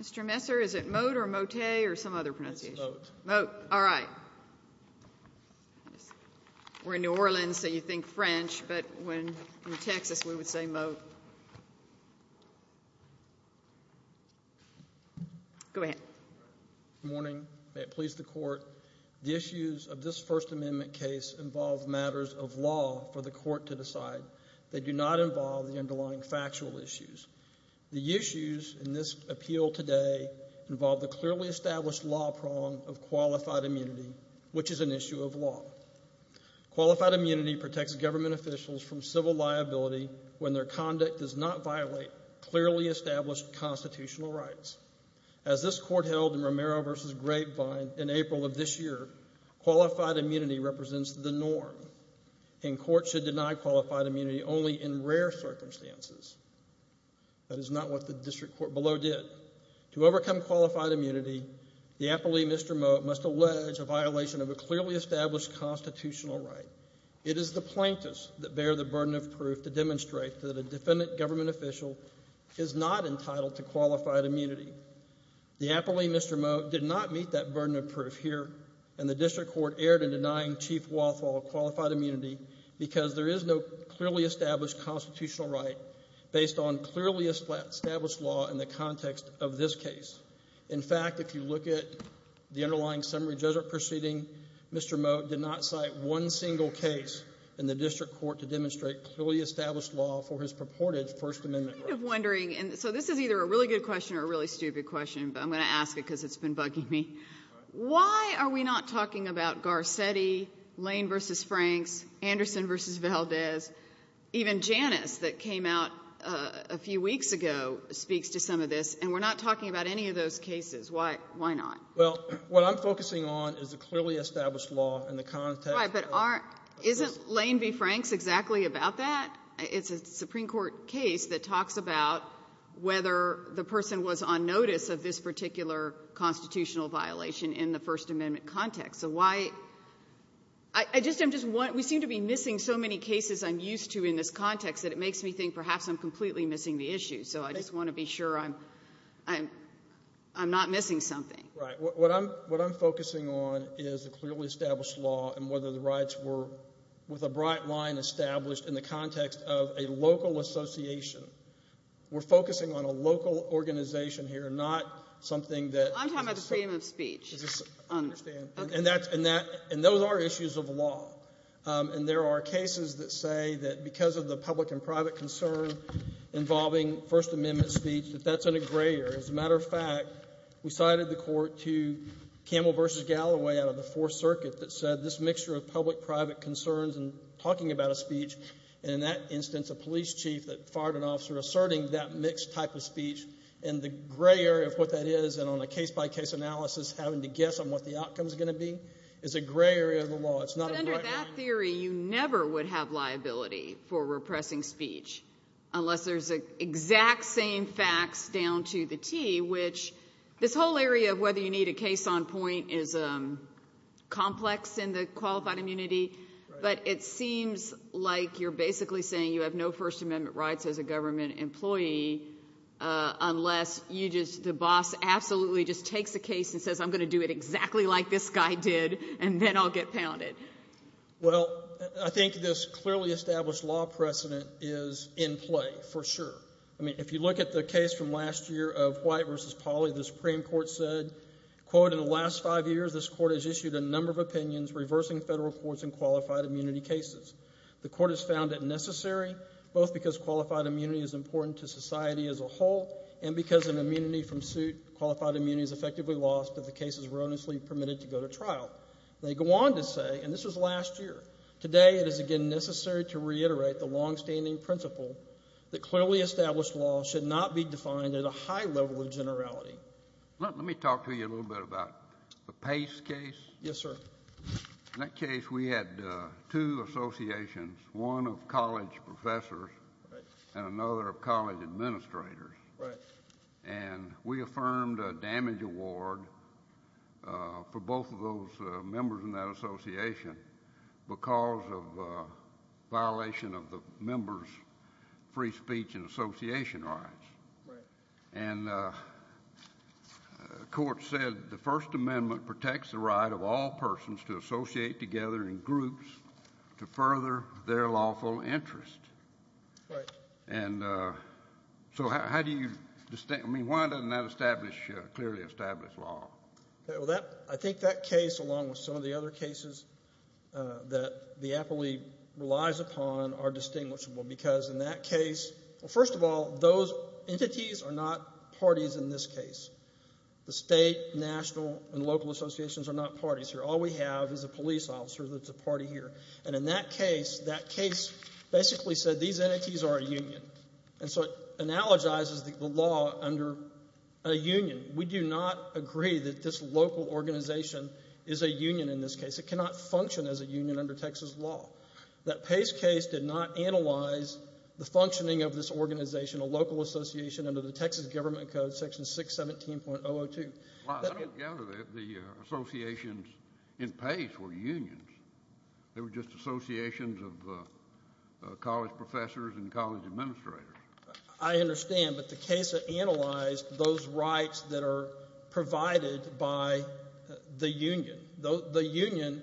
Mr. Messer, is it Mote or Mote or some other pronunciation? Mote. Mote. All right. We're in New Orleans, so you think French, but in Texas we would say Mote. Go ahead. Good morning. May it please the Court. The issues of this First Amendment case involve matters of law for the Court to decide. They do not involve the underlying factual issues. The issues in this appeal today involve the clearly established law prong of qualified immunity, which is an issue of law. Qualified immunity protects government officials from civil liability when their conduct does not violate clearly established constitutional rights. As this Court held in Romero v. Grapevine in April of this year, qualified immunity represents the norm, and courts should deny qualified immunity only in rare circumstances. That is not what the District Court below did. To overcome qualified immunity, the appellee, Mr. Mote, must allege a violation of a clearly established constitutional right. It is the plaintiffs that bear the burden of proof to demonstrate that a defendant government official is not entitled to qualified immunity. The appellee, Mr. Mote, did not meet that burden of proof here, and the District Court erred in denying Chief Walthall qualified immunity because there is no clearly established constitutional right based on clearly established law in the context of this case. In fact, if you look at the underlying summary judgment proceeding, Mr. Mote did not cite one single case in the District Court to demonstrate clearly established law for his purported First Amendment rights. So this is either a really good question or a really stupid question, but I'm going to ask it because it's been bugging me. Why are we not talking about Garcetti, Lane v. Franks, Anderson v. Valdez? Even Janus that came out a few weeks ago speaks to some of this, and we're not talking about any of those cases. Why not? Well, what I'm focusing on is the clearly established law in the context of this. Right, but aren't — isn't Lane v. Franks exactly about that? It's a Supreme Court case that talks about whether the person was on notice of this particular constitutional violation in the First Amendment context. So why — I just — I'm just — we seem to be missing so many cases I'm used to in this context that it makes me think perhaps I'm completely missing the issue. So I just want to be sure I'm — I'm not missing something. Right. What I'm — what I'm focusing on is the clearly established law and whether the rights were with a bright line established in the context of a local association. We're focusing on a local organization here, not something that — I'm talking about the freedom of speech. I understand. Okay. And that's — and that — and those are issues of law. And there are cases that say that because of the public and private concern involving First Amendment speech, that that's an aggrayer. As a matter of fact, we cited the court to Campbell v. Galloway out of the Fourth Circuit that said this mixture of public-private concerns and talking about a speech, and in that instance, a police chief that fired an officer asserting that mixed type of speech. And the gray area of what that is, and on a case-by-case analysis, having to guess on what the outcome's going to be, is a gray area of the law. It's not a bright line. But under that theory, you never would have liability for repressing speech unless there's exact same facts down to the T, which this whole area of whether you need a case on point is complex in the qualified immunity. But it seems like you're basically saying you have no First Amendment rights as a government employee unless you just — the boss absolutely just takes the case and says, I'm going to do it exactly like this guy did, and then I'll get pounded. Well, I think this clearly established law precedent is in play, for sure. I mean, if you look at the case from last year of White v. Pauley, the Supreme Court said, quote, in the last five years, this court has issued a number of opinions reversing federal courts in qualified immunity cases. The court has found it necessary both because qualified immunity is important to society as a whole and because an immunity from suit, qualified immunity is effectively lost if the case is erroneously permitted to go to trial. They go on to say, and this was last year, today it is again necessary to reiterate the longstanding principle that clearly established law should not be defined at a high level of generality. Let me talk to you a little bit about the Pace case. Yes, sir. In that case, we had two associations, one of college professors and another of college administrators. Right. And we affirmed a damage award for both of those members in that association because of violation of the members' free speech and association rights. Right. And the court said the First Amendment protects the right of all persons to associate together in groups to further their lawful interest. Right. And so how do you, I mean, why doesn't that establish, clearly establish law? Well, I think that case along with some of the other cases that the appellee relies upon are distinguishable because in that case, well, first of all, those entities are not parties in this case. The state, national, and local associations are not parties here. All we have is a police officer that's a party here. And in that case, that case basically said these entities are a union. And so it analogizes the law under a union. We do not agree that this local organization is a union in this case. It cannot function as a union under Texas law. That Pace case did not analyze the functioning of this organization, a local association, under the Texas Government Code, Section 617.002. I don't gather that the associations in Pace were unions. They were just associations of college professors and college administrators. I understand, but the case analyzed those rights that are provided by the union. The union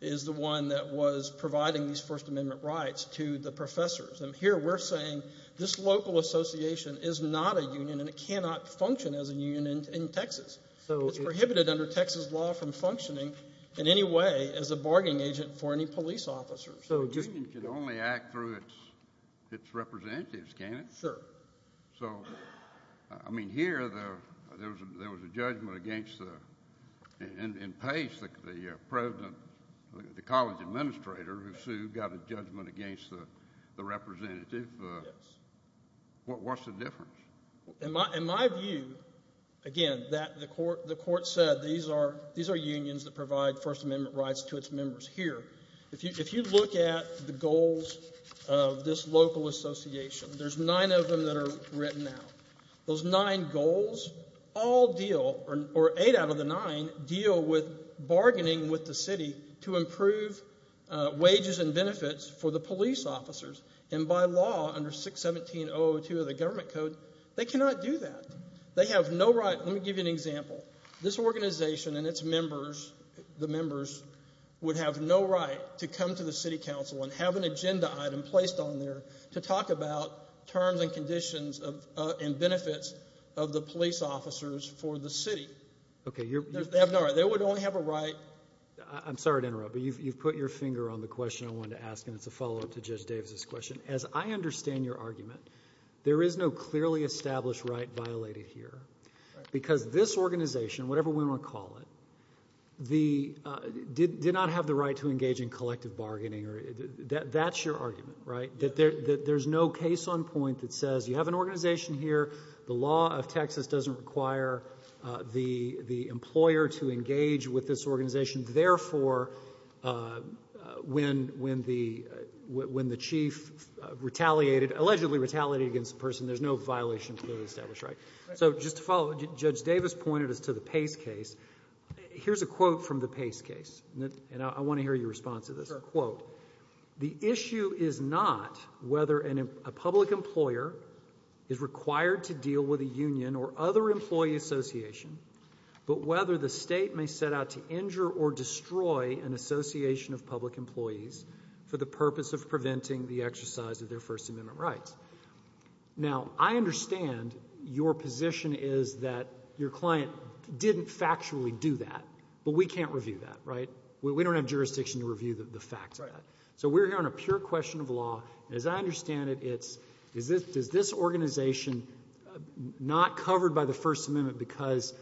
is the one that was providing these First Amendment rights to the professors. And here we're saying this local association is not a union and it cannot function as a union in Texas. It's prohibited under Texas law from functioning in any way as a bargaining agent for any police officer. So a union can only act through its representatives, can it? Sure. So, I mean, here there was a judgment against, in Pace, the president, the college administrator who sued, got a judgment against the representative. Yes. What's the difference? In my view, again, the court said these are unions that provide First Amendment rights to its members. Here, if you look at the goals of this local association, there's nine of them that are written out. Those nine goals all deal, or eight out of the nine, deal with bargaining with the city to improve wages and benefits for the police officers, and by law, under 617.002 of the Government Code, they cannot do that. They have no right. Let me give you an example. This organization and its members, the members, would have no right to come to the city council and have an agenda item placed on there to talk about terms and conditions and benefits of the police officers for the city. They have no right. They would only have a right. I'm sorry to interrupt, but you've put your finger on the question I wanted to ask, and it's a follow-up to Judge Davis's question. As I understand your argument, there is no clearly established right violated here because this organization, whatever we want to call it, did not have the right to engage in collective bargaining. That's your argument, right, that there's no case on point that says you have an organization here. The law of Texas doesn't require the employer to engage with this organization. Therefore, when the chief retaliated, allegedly retaliated against the person, there's no violation clearly established, right? So just to follow, Judge Davis pointed us to the Pace case. Here's a quote from the Pace case, and I want to hear your response to this quote. The issue is not whether a public employer is required to deal with a union or other employee association, but whether the state may set out to injure or destroy an association of public employees for the purpose of preventing the exercise of their First Amendment rights. Now, I understand your position is that your client didn't factually do that, but we can't review that, right? We don't have jurisdiction to review the facts of that. So we're here on a pure question of law. As I understand it, it's, is this organization not covered by the First Amendment because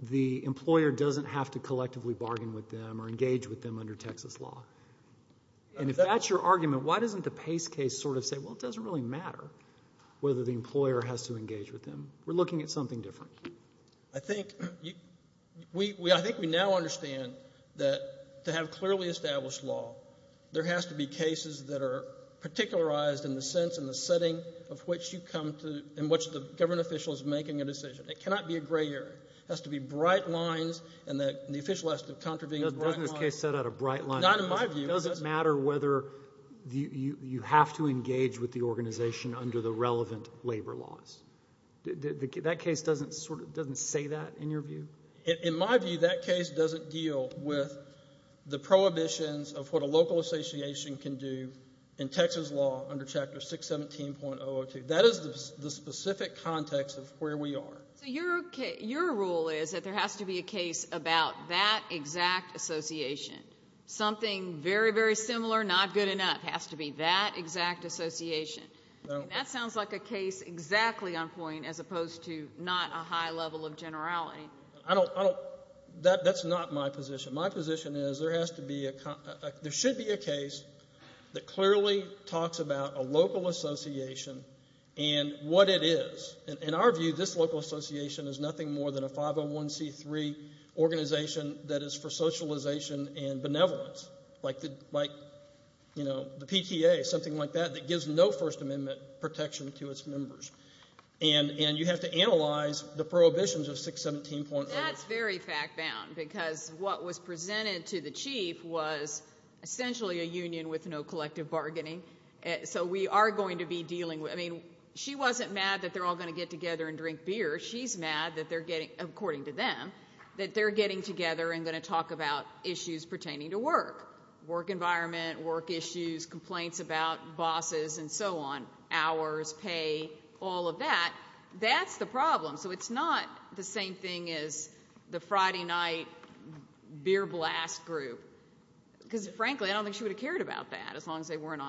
the employer doesn't have to collectively bargain with them or engage with them under Texas law? And if that's your argument, why doesn't the Pace case sort of say, well, it doesn't really matter whether the employer has to engage with them. We're looking at something different. I think we now understand that to have clearly established law, there has to be cases that are particularized in the sense and the setting of which you come to and which the government official is making a decision. It cannot be a gray area. It has to be bright lines, and the official has to contravene those bright lines. Doesn't this case set out a bright line? Not in my view. It doesn't matter whether you have to engage with the organization under the relevant labor laws. That case doesn't sort of, doesn't say that in your view? In my view, that case doesn't deal with the prohibitions of what a local association can do in Texas law under Chapter 617.002. That is the specific context of where we are. So your rule is that there has to be a case about that exact association. Something very, very similar, not good enough, has to be that exact association. That sounds like a case exactly on point as opposed to not a high level of generality. I don't, that's not my position. My position is there has to be, there should be a case that clearly talks about a local association and what it is. In our view, this local association is nothing more than a 501c3 organization that is for socialization and benevolence, like the PTA, something like that, that gives no First Amendment protection to its members. And you have to analyze the prohibitions of 617.002. That's very fact bound because what was presented to the chief was essentially a union with no collective bargaining. So we are going to be dealing with, I mean, she wasn't mad that they're all going to get together and drink beer. She's mad that they're getting, according to them, that they're getting together and going to talk about issues pertaining to work, work environment, work issues, complaints about bosses and so on, hours, pay, all of that. That's the problem. So it's not the same thing as the Friday night beer blast group because, frankly, I don't think she would have cared about that as long as they weren't in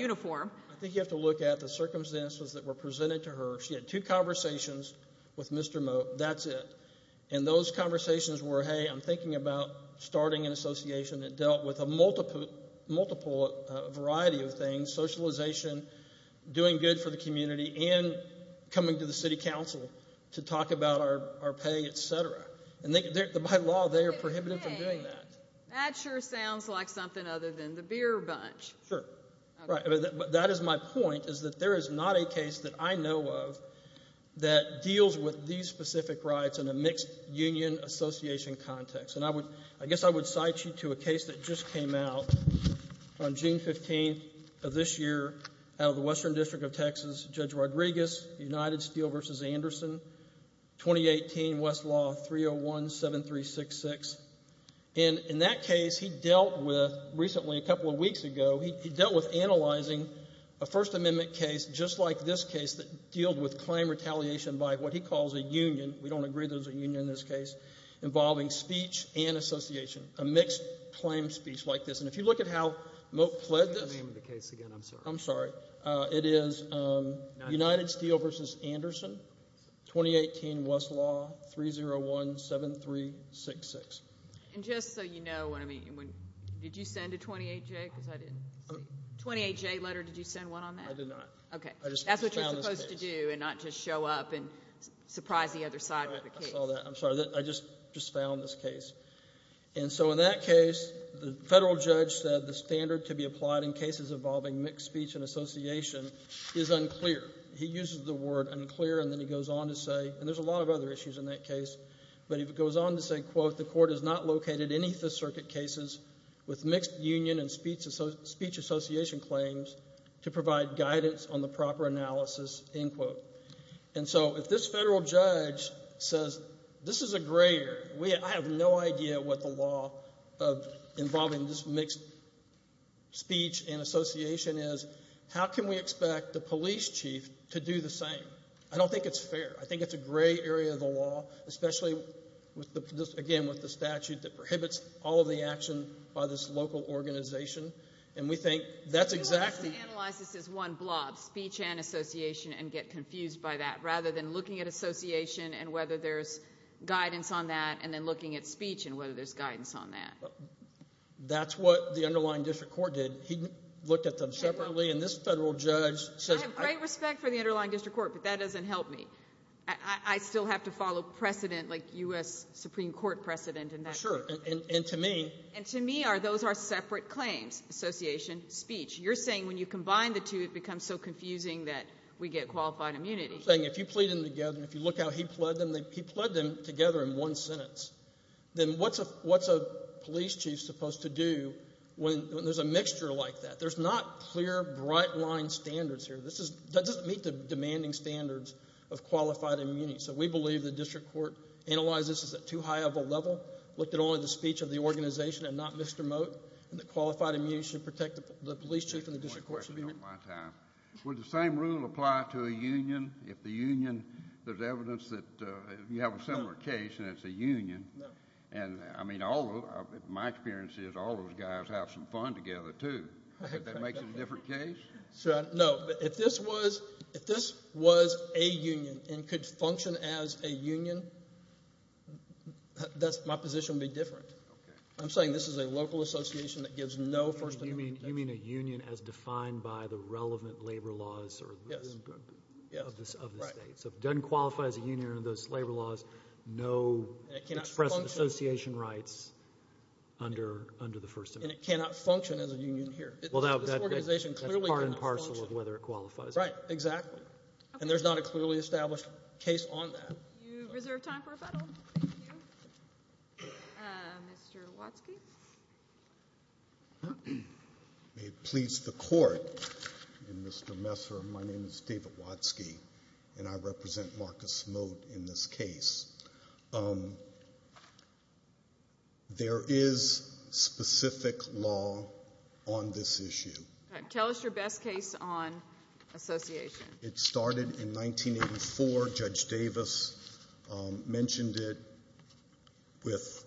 uniform. I think you have to look at the circumstances that were presented to her. She had two conversations with Mr. Moat. That's it. And those conversations were, hey, I'm thinking about starting an association that dealt with a multiple variety of things, socialization, doing good for the community, and coming to the city council to talk about our pay, et cetera. And by law, they are prohibited from doing that. That sure sounds like something other than the beer bunch. Sure. Right. But that is my point is that there is not a case that I know of that deals with these specific rights in a mixed union association context. And I guess I would cite you to a case that just came out on June 15th of this year out of the Western District of Texas, Judge Rodriguez, United Steel v. Anderson, 2018, West Law, 301-7366. And in that case, he dealt with, recently, a couple of weeks ago, he dealt with analyzing a First Amendment case, just like this case, that dealed with claim retaliation by what he calls a union. We don't agree there's a union in this case involving speech and association, a mixed claim speech like this. And if you look at how Moat pled this. Give me the name of the case again. I'm sorry. I'm sorry. It is United Steel v. Anderson, 2018, West Law, 301-7366. And just so you know, did you send a 28-J? Because I didn't see. 28-J letter, did you send one on that? I did not. Okay. That's what you're supposed to do and not just show up and surprise the other side of the case. I'm sorry. I just found this case. And so in that case, the federal judge said the standard to be applied in cases involving mixed speech and association is unclear. He uses the word unclear, and then he goes on to say, and there's a lot of other issues in that case, but he goes on to say, quote, the court has not located any Fifth Circuit cases with mixed union and speech association claims to provide guidance on the proper analysis, end quote. And so if this federal judge says this is a gray area, I have no idea what the law involving this mixed speech and association is. How can we expect the police chief to do the same? I don't think it's fair. I think it's a gray area of the law, especially, again, with the statute that prohibits all of the action by this local organization. And we think that's exactly. You'll have to analyze this as one blob, speech and association, and get confused by that. Rather than looking at association and whether there's guidance on that, and then looking at speech and whether there's guidance on that. That's what the underlying district court did. He looked at them separately, and this federal judge says... I have great respect for the underlying district court, but that doesn't help me. I still have to follow precedent like U.S. Supreme Court precedent. Sure, and to me... And to me, those are separate claims, association, speech. You're saying when you combine the two, it becomes so confusing that we get qualified immunity. You're saying if you plead them together, and if you look how he pled them, he pled them together in one sentence. Then what's a police chief supposed to do when there's a mixture like that? There's not clear, bright-line standards here. That doesn't meet the demanding standards of qualified immunity. So we believe the district court analyzed this as too high of a level, looked at only the speech of the organization and not Mr. Mote, and that qualified immunity should protect the police chief and the district court. Would the same rule apply to a union? If the union, there's evidence that you have a similar case, and it's a union. No. I mean, my experience is all those guys have some fun together, too. That makes it a different case? No. If this was a union and could function as a union, my position would be different. I'm saying this is a local association that gives no first amendment. You mean a union as defined by the relevant labor laws of the state. So if it doesn't qualify as a union under those labor laws, no express association rights under the first amendment. And it cannot function as a union here. This organization clearly cannot function. That's part and parcel of whether it qualifies. Right, exactly. And there's not a clearly established case on that. You reserve time for rebuttal. Thank you. Mr. Watzke. May it please the Court, and Mr. Messer, my name is David Watzke, and I represent Marcus Mote in this case. There is specific law on this issue. Tell us your best case on association. It started in 1984. Judge Davis mentioned it with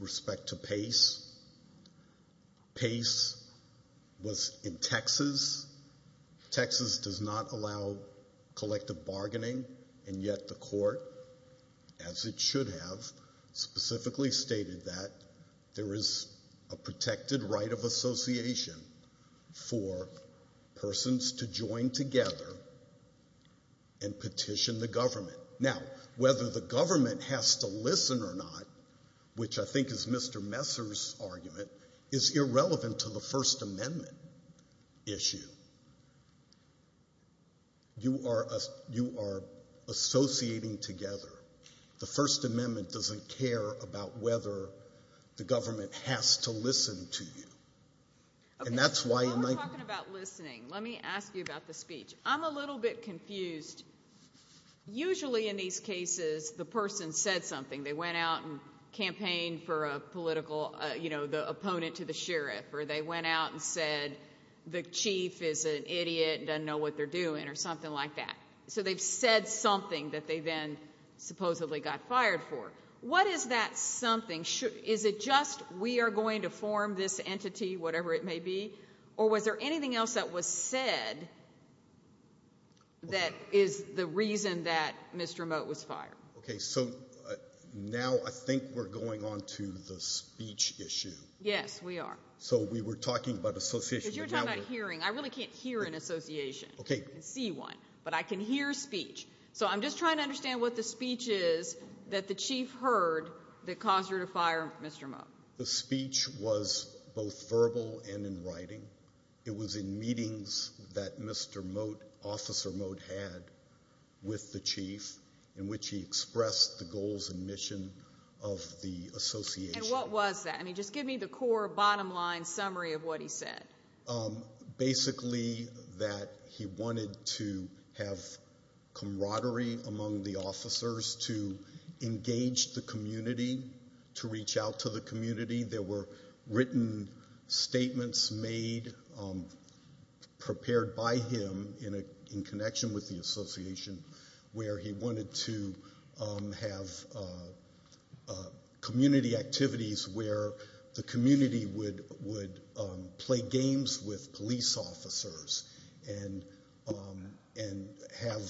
respect to PACE. PACE was in Texas. Texas does not allow collective bargaining, and yet the Court, as it should have, specifically stated that there is a protected right of association for persons to join together and petition the government. Now, whether the government has to listen or not, which I think is Mr. Messer's argument, is irrelevant to the first amendment issue. You are associating together. The first amendment doesn't care about whether the government has to listen to you. Okay, while we're talking about listening, let me ask you about the speech. I'm a little bit confused. Usually in these cases the person said something. They went out and campaigned for a political, you know, the opponent to the sheriff, or they went out and said the chief is an idiot and doesn't know what they're doing or something like that. So they've said something that they then supposedly got fired for. What is that something? Is it just we are going to form this entity, whatever it may be, or was there anything else that was said that is the reason that Mr. Mote was fired? Okay, so now I think we're going on to the speech issue. Yes, we are. So we were talking about association. Because you're talking about hearing. I really can't hear an association. Okay. I can see one, but I can hear speech. So I'm just trying to understand what the speech is that the chief heard that caused her to fire Mr. Mote. The speech was both verbal and in writing. It was in meetings that Mr. Mote, Officer Mote, had with the chief in which he expressed the goals and mission of the association. And what was that? I mean, just give me the core, bottom line summary of what he said. Basically that he wanted to have camaraderie among the officers to engage the community, to reach out to the community. There were written statements made prepared by him in connection with the association where he wanted to have community activities where the community would play games with police officers and have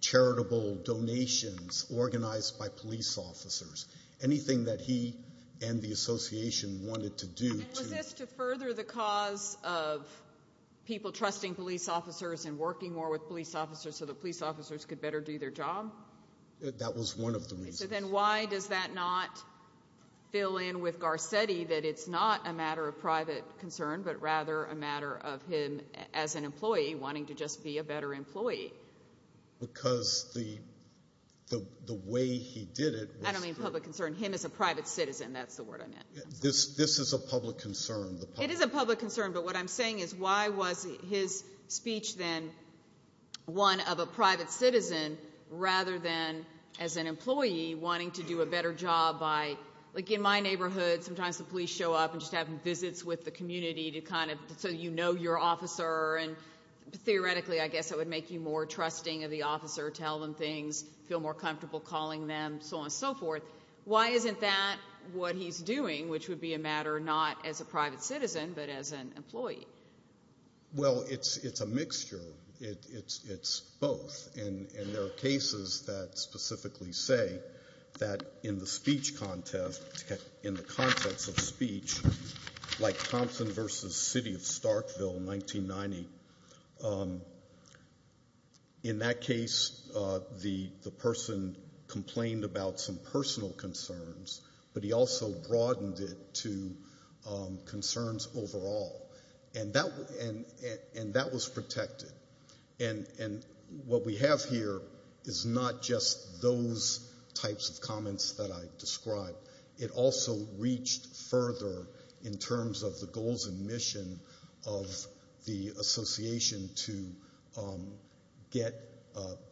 charitable donations organized by police officers, anything that he and the association wanted to do. And was this to further the cause of people trusting police officers and working more with police officers so that police officers could better do their job? That was one of the reasons. So then why does that not fill in with Garcetti that it's not a matter of private concern but rather a matter of him as an employee wanting to just be a better employee? Because the way he did it was to— I don't mean public concern. Him as a private citizen, that's the word I meant. This is a public concern. It is a public concern, but what I'm saying is why was his speech then one of a private citizen rather than as an employee wanting to do a better job by, like in my neighborhood, sometimes the police show up and just have visits with the community so you know your officer and theoretically I guess it would make you more trusting of the officer, tell them things, feel more comfortable calling them, so on and so forth. Why isn't that what he's doing, which would be a matter not as a private citizen but as an employee? Well, it's a mixture. It's both, and there are cases that specifically say that in the speech context, in the context of speech like Thompson v. City of Starkville, 1990, in that case the person complained about some personal concerns, but he also broadened it to concerns overall, and that was protected. And what we have here is not just those types of comments that I described. It also reached further in terms of the goals and mission of the association to get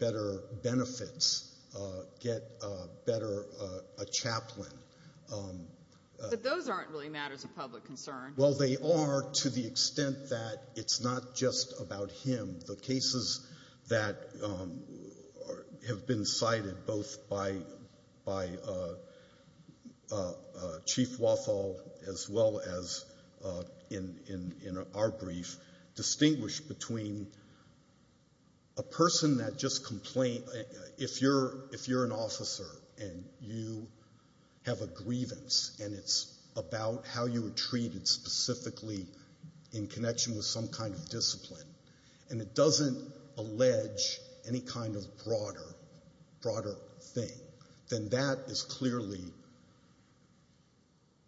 better benefits, get better a chaplain. But those aren't really matters of public concern. Well, they are to the extent that it's not just about him. The cases that have been cited both by Chief Walthall as well as in our brief distinguish between a person that just complained. If you're an officer and you have a grievance and it's about how you were treated specifically in connection with some kind of discipline and it doesn't allege any kind of broader thing, then that is clearly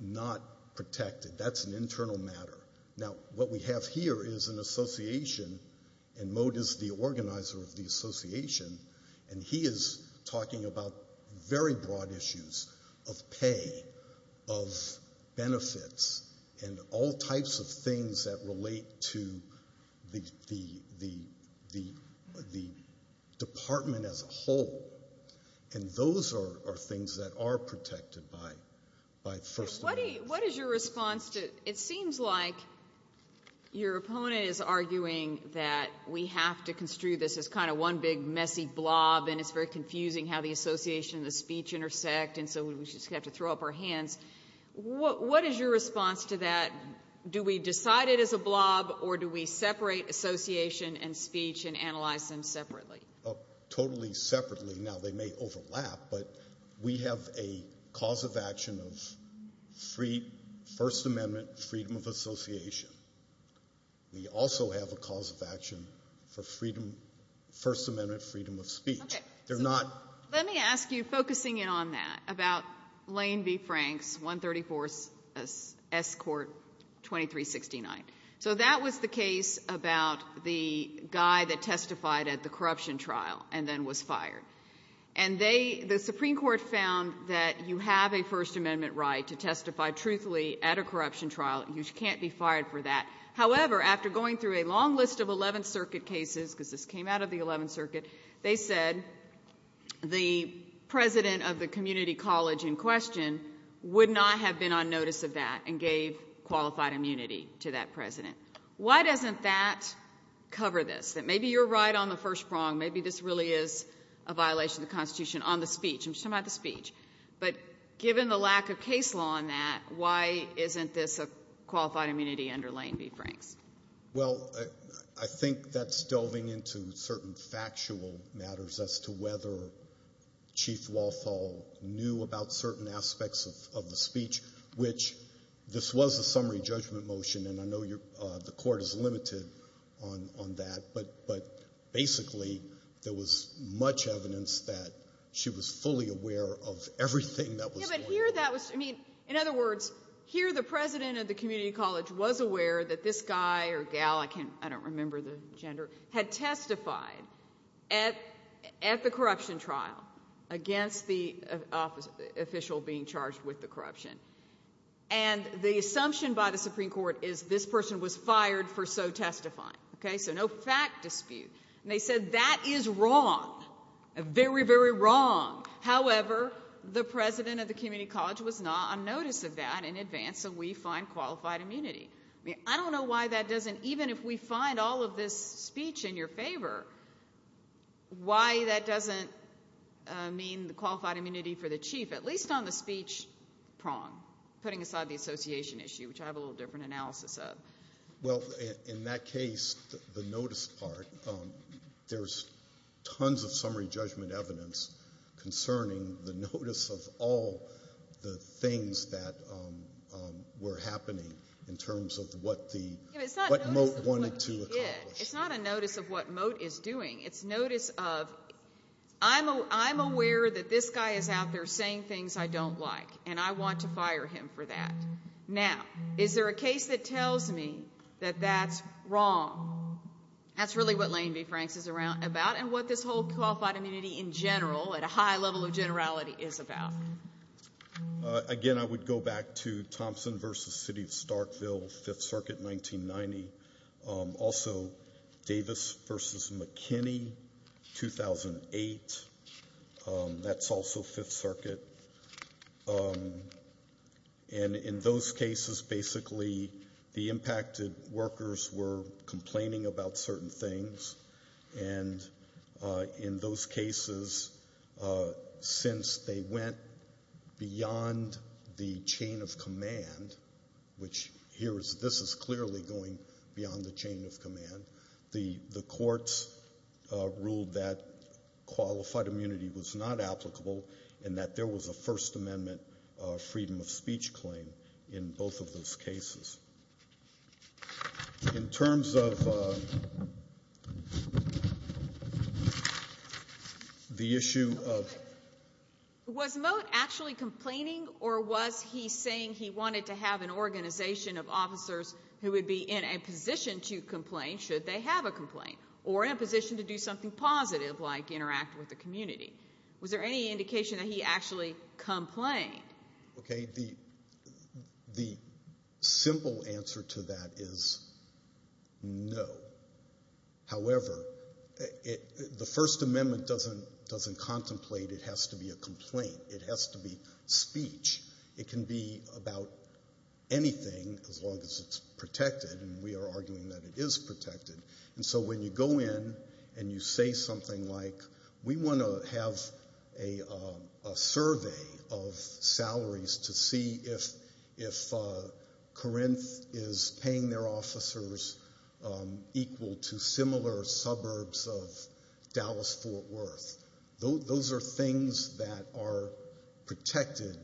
not protected. That's an internal matter. Now, what we have here is an association, and Moe is the organizer of the association, and he is talking about very broad issues of pay, of benefits, and all types of things that relate to the department as a whole. And those are things that are protected by First Amendment. What is your response to it seems like your opponent is arguing that we have to construe this as kind of one big messy blob and it's very confusing how the association and the speech intersect and so we just have to throw up our hands. What is your response to that? Do we decide it as a blob or do we separate association and speech and analyze them separately? Totally separately. Now, they may overlap, but we have a cause of action of First Amendment freedom of association. We also have a cause of action for First Amendment freedom of speech. Okay. Let me ask you, focusing in on that, about Lane v. Franks, 134 S. Court 2369. So that was the case about the guy that testified at the corruption trial and then was fired. And the Supreme Court found that you have a First Amendment right to testify truthfully at a corruption trial. You can't be fired for that. However, after going through a long list of 11th Circuit cases, because this came out of the 11th Circuit, they said the president of the community college in question would not have been on notice of that and gave qualified immunity to that president. Why doesn't that cover this, that maybe you're right on the first prong, maybe this really is a violation of the Constitution on the speech? I'm just talking about the speech. But given the lack of case law on that, why isn't this a qualified immunity under Lane v. Franks? Well, I think that's delving into certain factual matters as to whether Chief Walthall knew about certain aspects of the speech, which this was a summary judgment motion, and I know the court is limited on that, but basically there was much evidence that she was fully aware of everything that was going on. In other words, here the president of the community college was aware that this guy or gal, I don't remember the gender, had testified at the corruption trial against the official being charged with the corruption. And the assumption by the Supreme Court is this person was fired for so testifying. So no fact dispute. And they said that is wrong, very, very wrong. However, the president of the community college was not on notice of that in advance, so we find qualified immunity. I don't know why that doesn't, even if we find all of this speech in your favor, why that doesn't mean the qualified immunity for the chief, at least on the speech prong, putting aside the association issue, which I have a little different analysis of. Well, in that case, the notice part, there's tons of summary judgment evidence concerning the notice of all the things that were happening in terms of what the, what Moat wanted to accomplish. It's not a notice of what Moat is doing. It's notice of I'm aware that this guy is out there saying things I don't like, and I want to fire him for that. Now, is there a case that tells me that that's wrong? That's really what Lane v. Franks is about and what this whole qualified immunity in general, at a high level of generality, is about. Again, I would go back to Thompson v. City of Starkville, 5th Circuit, 1990. Also, Davis v. McKinney, 2008. That's also 5th Circuit. And in those cases, basically, the impacted workers were complaining about certain things, and in those cases, since they went beyond the chain of command, which here is this is clearly going beyond the chain of command, the courts ruled that qualified immunity was not applicable and that there was a First Amendment freedom of speech claim in both of those cases. In terms of the issue of Was Moat actually complaining, or was he saying he wanted to have an organization of officers who would be in a position to complain should they have a complaint, or in a position to do something positive like interact with the community? Was there any indication that he actually complained? Okay, the simple answer to that is no. However, the First Amendment doesn't contemplate it has to be a complaint. It has to be speech. It can be about anything as long as it's protected, and we are arguing that it is protected. And so when you go in and you say something like, we want to have a survey of salaries to see if Corinth is paying their officers equal to similar suburbs of Dallas-Fort Worth. Those are things that are protected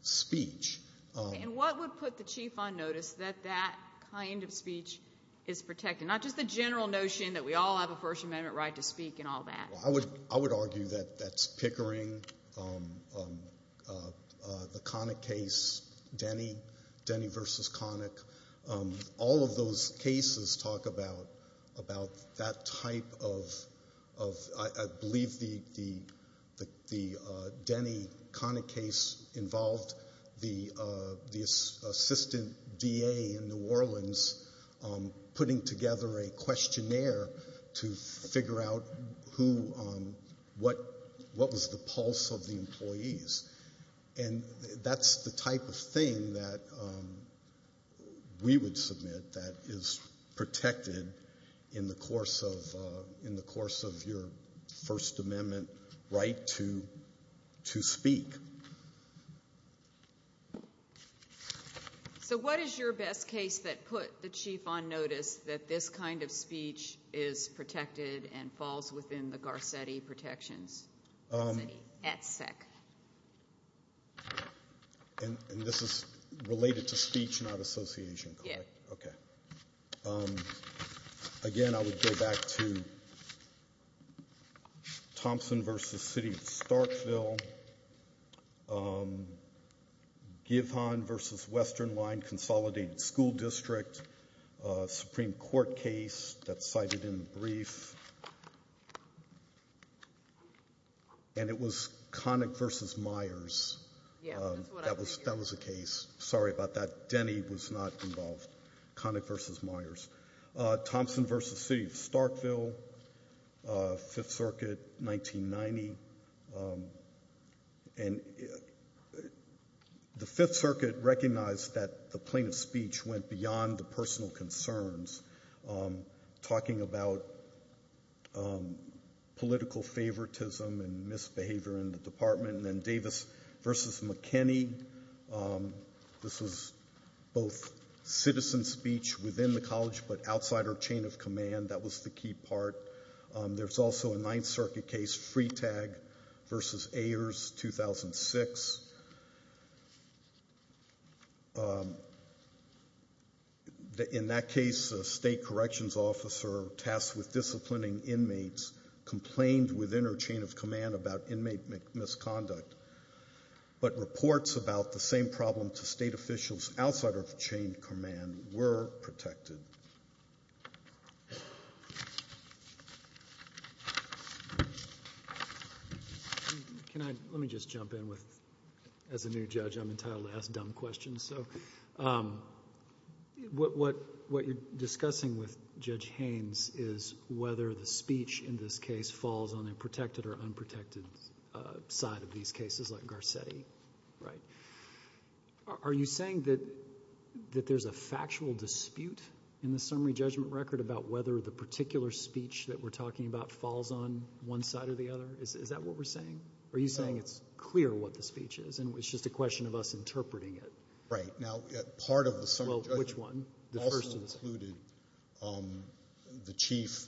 speech. And what would put the chief on notice that that kind of speech is protected, not just the general notion that we all have a First Amendment right to speak and all that? I would argue that that's Pickering, the Connick case, Denny versus Connick. All of those cases talk about that type of, I believe the Denny-Connick case involved the assistant DA in New Orleans putting together a questionnaire to figure out what was the pulse of the employees. And that's the type of thing that we would submit that is protected in the course of your First Amendment right to speak. So what is your best case that put the chief on notice that this kind of speech is protected and falls within the Garcetti protections at SEC? And this is related to speech, not association, correct? Yes. Okay. Again, I would go back to Thompson versus City of Starkville, Givhan versus Western Line Consolidated School District Supreme Court case that's cited in the brief. And it was Connick versus Myers. That was a case. Sorry about that. Denny was not involved. Connick versus Myers. Thompson versus City of Starkville, Fifth Circuit, 1990. And the Fifth Circuit recognized that the plaintiff's speech went beyond the personal concerns, talking about political favoritism and misbehavior in the department. And then Davis versus McKinney. This was both citizen speech within the college but outside our chain of command. That was the key part. There's also a Ninth Circuit case, Freetag versus Ayers, 2006. In that case, a state corrections officer tasked with disciplining inmates complained within our chain of command about inmate misconduct. But reports about the same problem to state officials outside our chain of command were protected. Let me just jump in. As a new judge, I'm entitled to ask dumb questions. What you're discussing with Judge Haynes is whether the speech in this case falls on a protected or unprotected side of these cases like Garcetti, right? Are you saying that there's a factual dispute in the summary judgment record about whether the particular speech that we're talking about falls on one side or the other? Is that what we're saying? Are you saying it's clear what the speech is and it's just a question of us interpreting it? Right. Now, part of the summary judgment also included the chief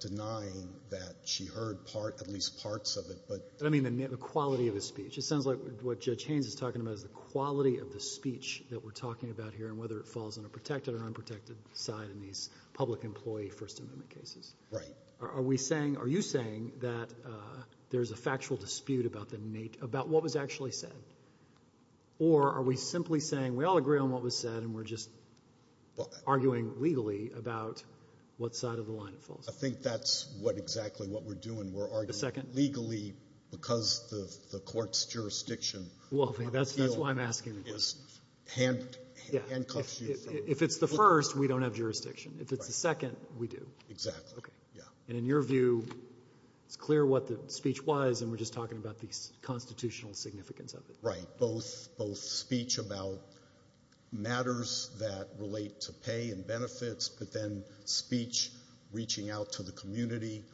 denying that she heard at least parts of it. But I mean the quality of the speech. It sounds like what Judge Haynes is talking about is the quality of the speech that we're talking about here and whether it falls on a protected or unprotected side in these public employee First Amendment cases. Right. Are you saying that there's a factual dispute about what was actually said? Or are we simply saying we all agree on what was said and we're just arguing legally about what side of the line it falls on? I think that's what exactly what we're doing. We're arguing legally because the court's jurisdiction. Well, that's why I'm asking. If it's the first, we don't have jurisdiction. If it's the second, we do. Exactly. And in your view, it's clear what the speech was, and we're just talking about the constitutional significance of it. Right. Both speech about matters that relate to pay and benefits, but then speech reaching out to the community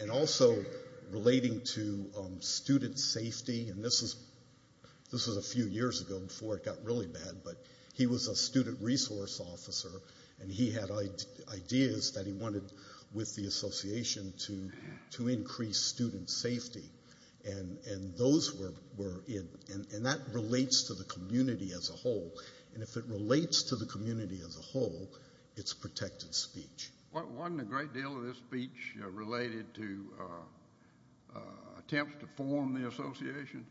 and also relating to student safety. This was a few years ago before it got really bad, but he was a student resource officer, and he had ideas that he wanted with the association to increase student safety, and that relates to the community as a whole. And if it relates to the community as a whole, it's protected speech. Wasn't a great deal of this speech related to attempts to form the association?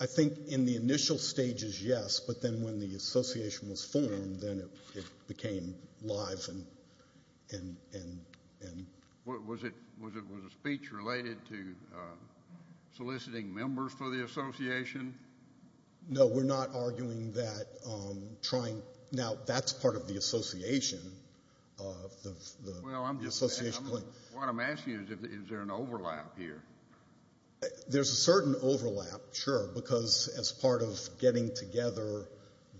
I think in the initial stages, yes, but then when the association was formed, then it became live. Was the speech related to soliciting members for the association? No, we're not arguing that. Now, that's part of the association. Well, what I'm asking is, is there an overlap here? There's a certain overlap, sure, because as part of getting together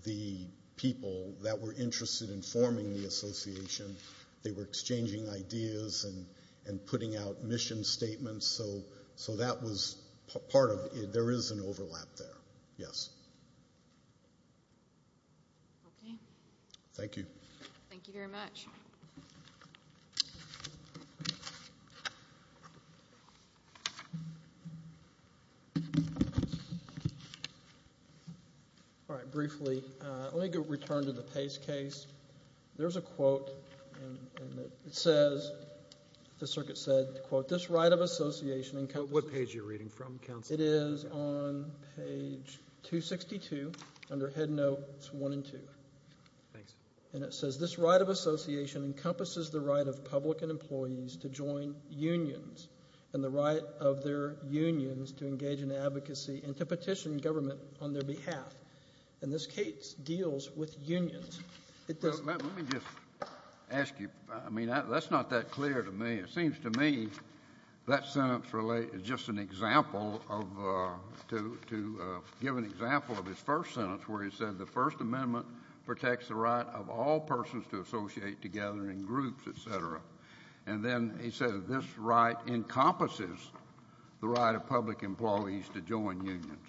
the people that were interested in forming the association, they were exchanging ideas and putting out mission statements, so that was part of it. There is an overlap there, yes. Okay. Thank you. Thank you very much. Thank you. All right, briefly, let me return to the Pace case. There's a quote, and it says, the circuit said, quote, this right of association encompasses... What page are you reading from, counsel? It is on page 262 under Head Notes 1 and 2. Thanks. And it says, this right of association encompasses the right of public and employees to join unions and the right of their unions to engage in advocacy and to petition government on their behalf. And this case deals with unions. Let me just ask you, I mean, that's not that clear to me. It seems to me that sentence is just an example of, to give an example of his first sentence where he said the First Amendment protects the right of all persons to associate together in groups, et cetera. And then he said this right encompasses the right of public employees to join unions.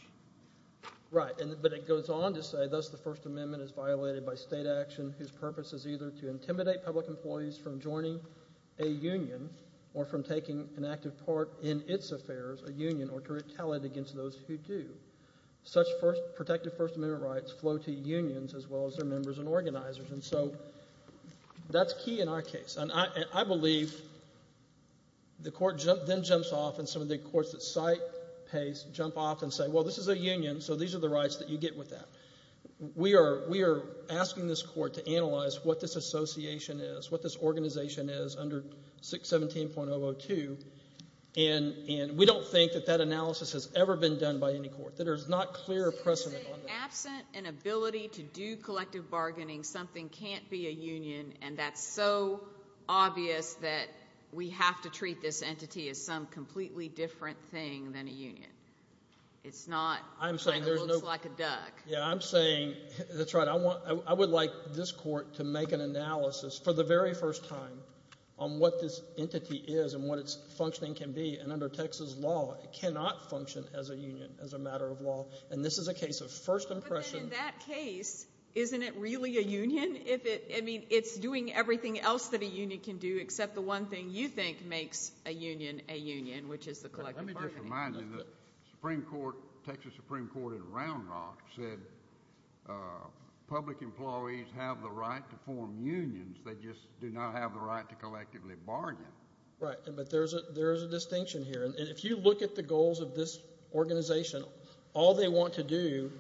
Right, but it goes on to say, thus the First Amendment is violated by state action whose purpose is either to intimidate public employees from joining a union or from taking an active part in its affairs, a union, or to retaliate against those who do. Such protective First Amendment rights flow to unions as well as their members and organizers. And so that's key in our case. And I believe the court then jumps off and some of the courts that site pays jump off and say, well, this is a union, so these are the rights that you get with that. We are asking this court to analyze what this association is, what this organization is under 617.002. And we don't think that that analysis has ever been done by any court. There is not clear precedent on that. So you're saying absent an ability to do collective bargaining, something can't be a union, and that's so obvious that we have to treat this entity as some completely different thing than a union. It's not something that looks like a duck. Yeah, I'm saying that's right. I would like this court to make an analysis for the very first time on what this entity is and what its functioning can be. And under Texas law, it cannot function as a union, as a matter of law. And this is a case of first impression. But then in that case, isn't it really a union? I mean, it's doing everything else that a union can do except the one thing you think makes a union a union, which is the collective bargaining. Let me just remind you that the Supreme Court, Texas Supreme Court in Round Rock, said public employees have the right to form unions. They just do not have the right to collectively bargain. Right, but there is a distinction here. And if you look at the goals of this organization, all they want to do,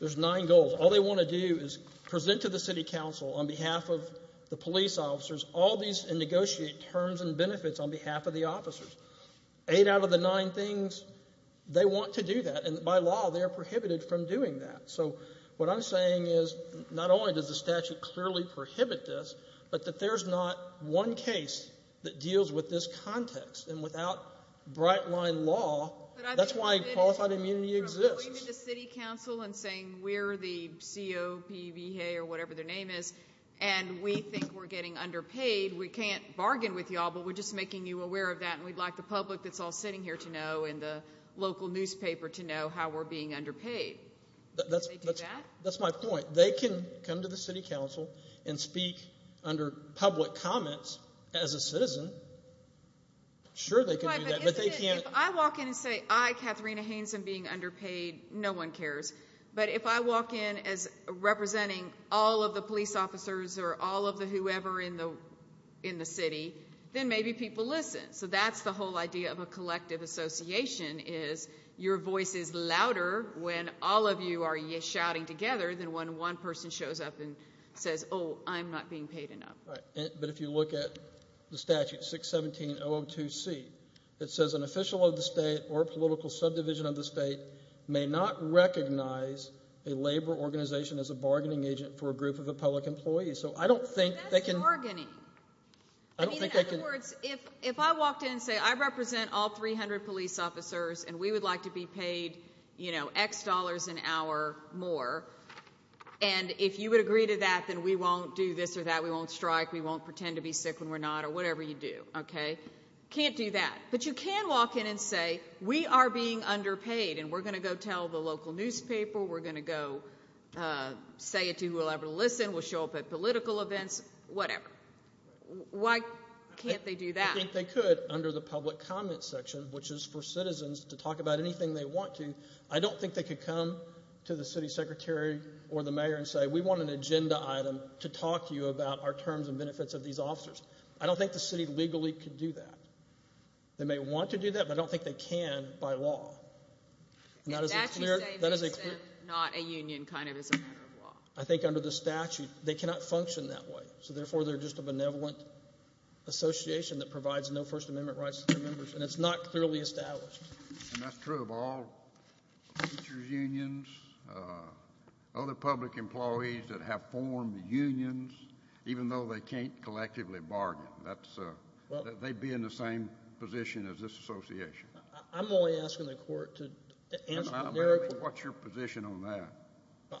there's nine goals. All they want to do is present to the city council on behalf of the police officers all these and negotiate terms and benefits on behalf of the officers. Eight out of the nine things, they want to do that. And by law, they are prohibited from doing that. So what I'm saying is not only does the statute clearly prohibit this, but that there's not one case that deals with this context. And without bright-line law, that's why qualified immunity exists. But I think we did it from going to the city council and saying we're the COPBH or whatever their name is, and we think we're getting underpaid, we can't bargain with you all, but we're just making you aware of that and we'd like the public that's all sitting here to know and the local newspaper to know how we're being underpaid. That's my point. They can come to the city council and speak under public comments as a citizen. Sure, they can do that, but they can't. If I walk in and say, I, Katharina Haynes, am being underpaid, no one cares. But if I walk in as representing all of the police officers or all of the whoever in the city, then maybe people listen. So that's the whole idea of a collective association is your voice is louder when all of you are shouting together than when one person shows up and says, oh, I'm not being paid enough. But if you look at the statute 617-002C, it says an official of the state or political subdivision of the state may not recognize a labor organization as a bargaining agent for a group of public employees. That's bargaining. In other words, if I walked in and say, I represent all 300 police officers and we would like to be paid X dollars an hour more, and if you would agree to that, then we won't do this or that, we won't strike, we won't pretend to be sick when we're not or whatever you do. Can't do that. But you can walk in and say, we are being underpaid and we're going to go tell the local newspaper, we're going to go say it to whoever will listen, we'll show up at political events, whatever. Why can't they do that? I think they could under the public comment section, which is for citizens to talk about anything they want to. I don't think they could come to the city secretary or the mayor and say, we want an agenda item to talk to you about our terms and benefits of these officers. I don't think the city legally could do that. They may want to do that, but I don't think they can by law. That is a clear. That is a clear. Not a union kind of as a matter of law. I think under the statute they cannot function that way, so therefore they're just a benevolent association that provides no First Amendment rights to their members, and it's not clearly established. And that's true of all teachers' unions, other public employees that have formed unions, even though they can't collectively bargain. They'd be in the same position as this association. I'm only asking the court to answer the narrow question. What's your position on that?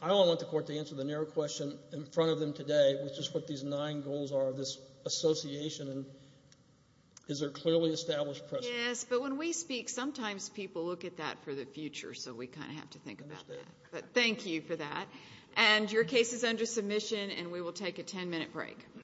I only want the court to answer the narrow question in front of them today, which is what these nine goals are of this association. And is there a clearly established precedent? Yes, but when we speak, sometimes people look at that for the future, so we kind of have to think about that. But thank you for that. And your case is under submission, and we will take a ten-minute break.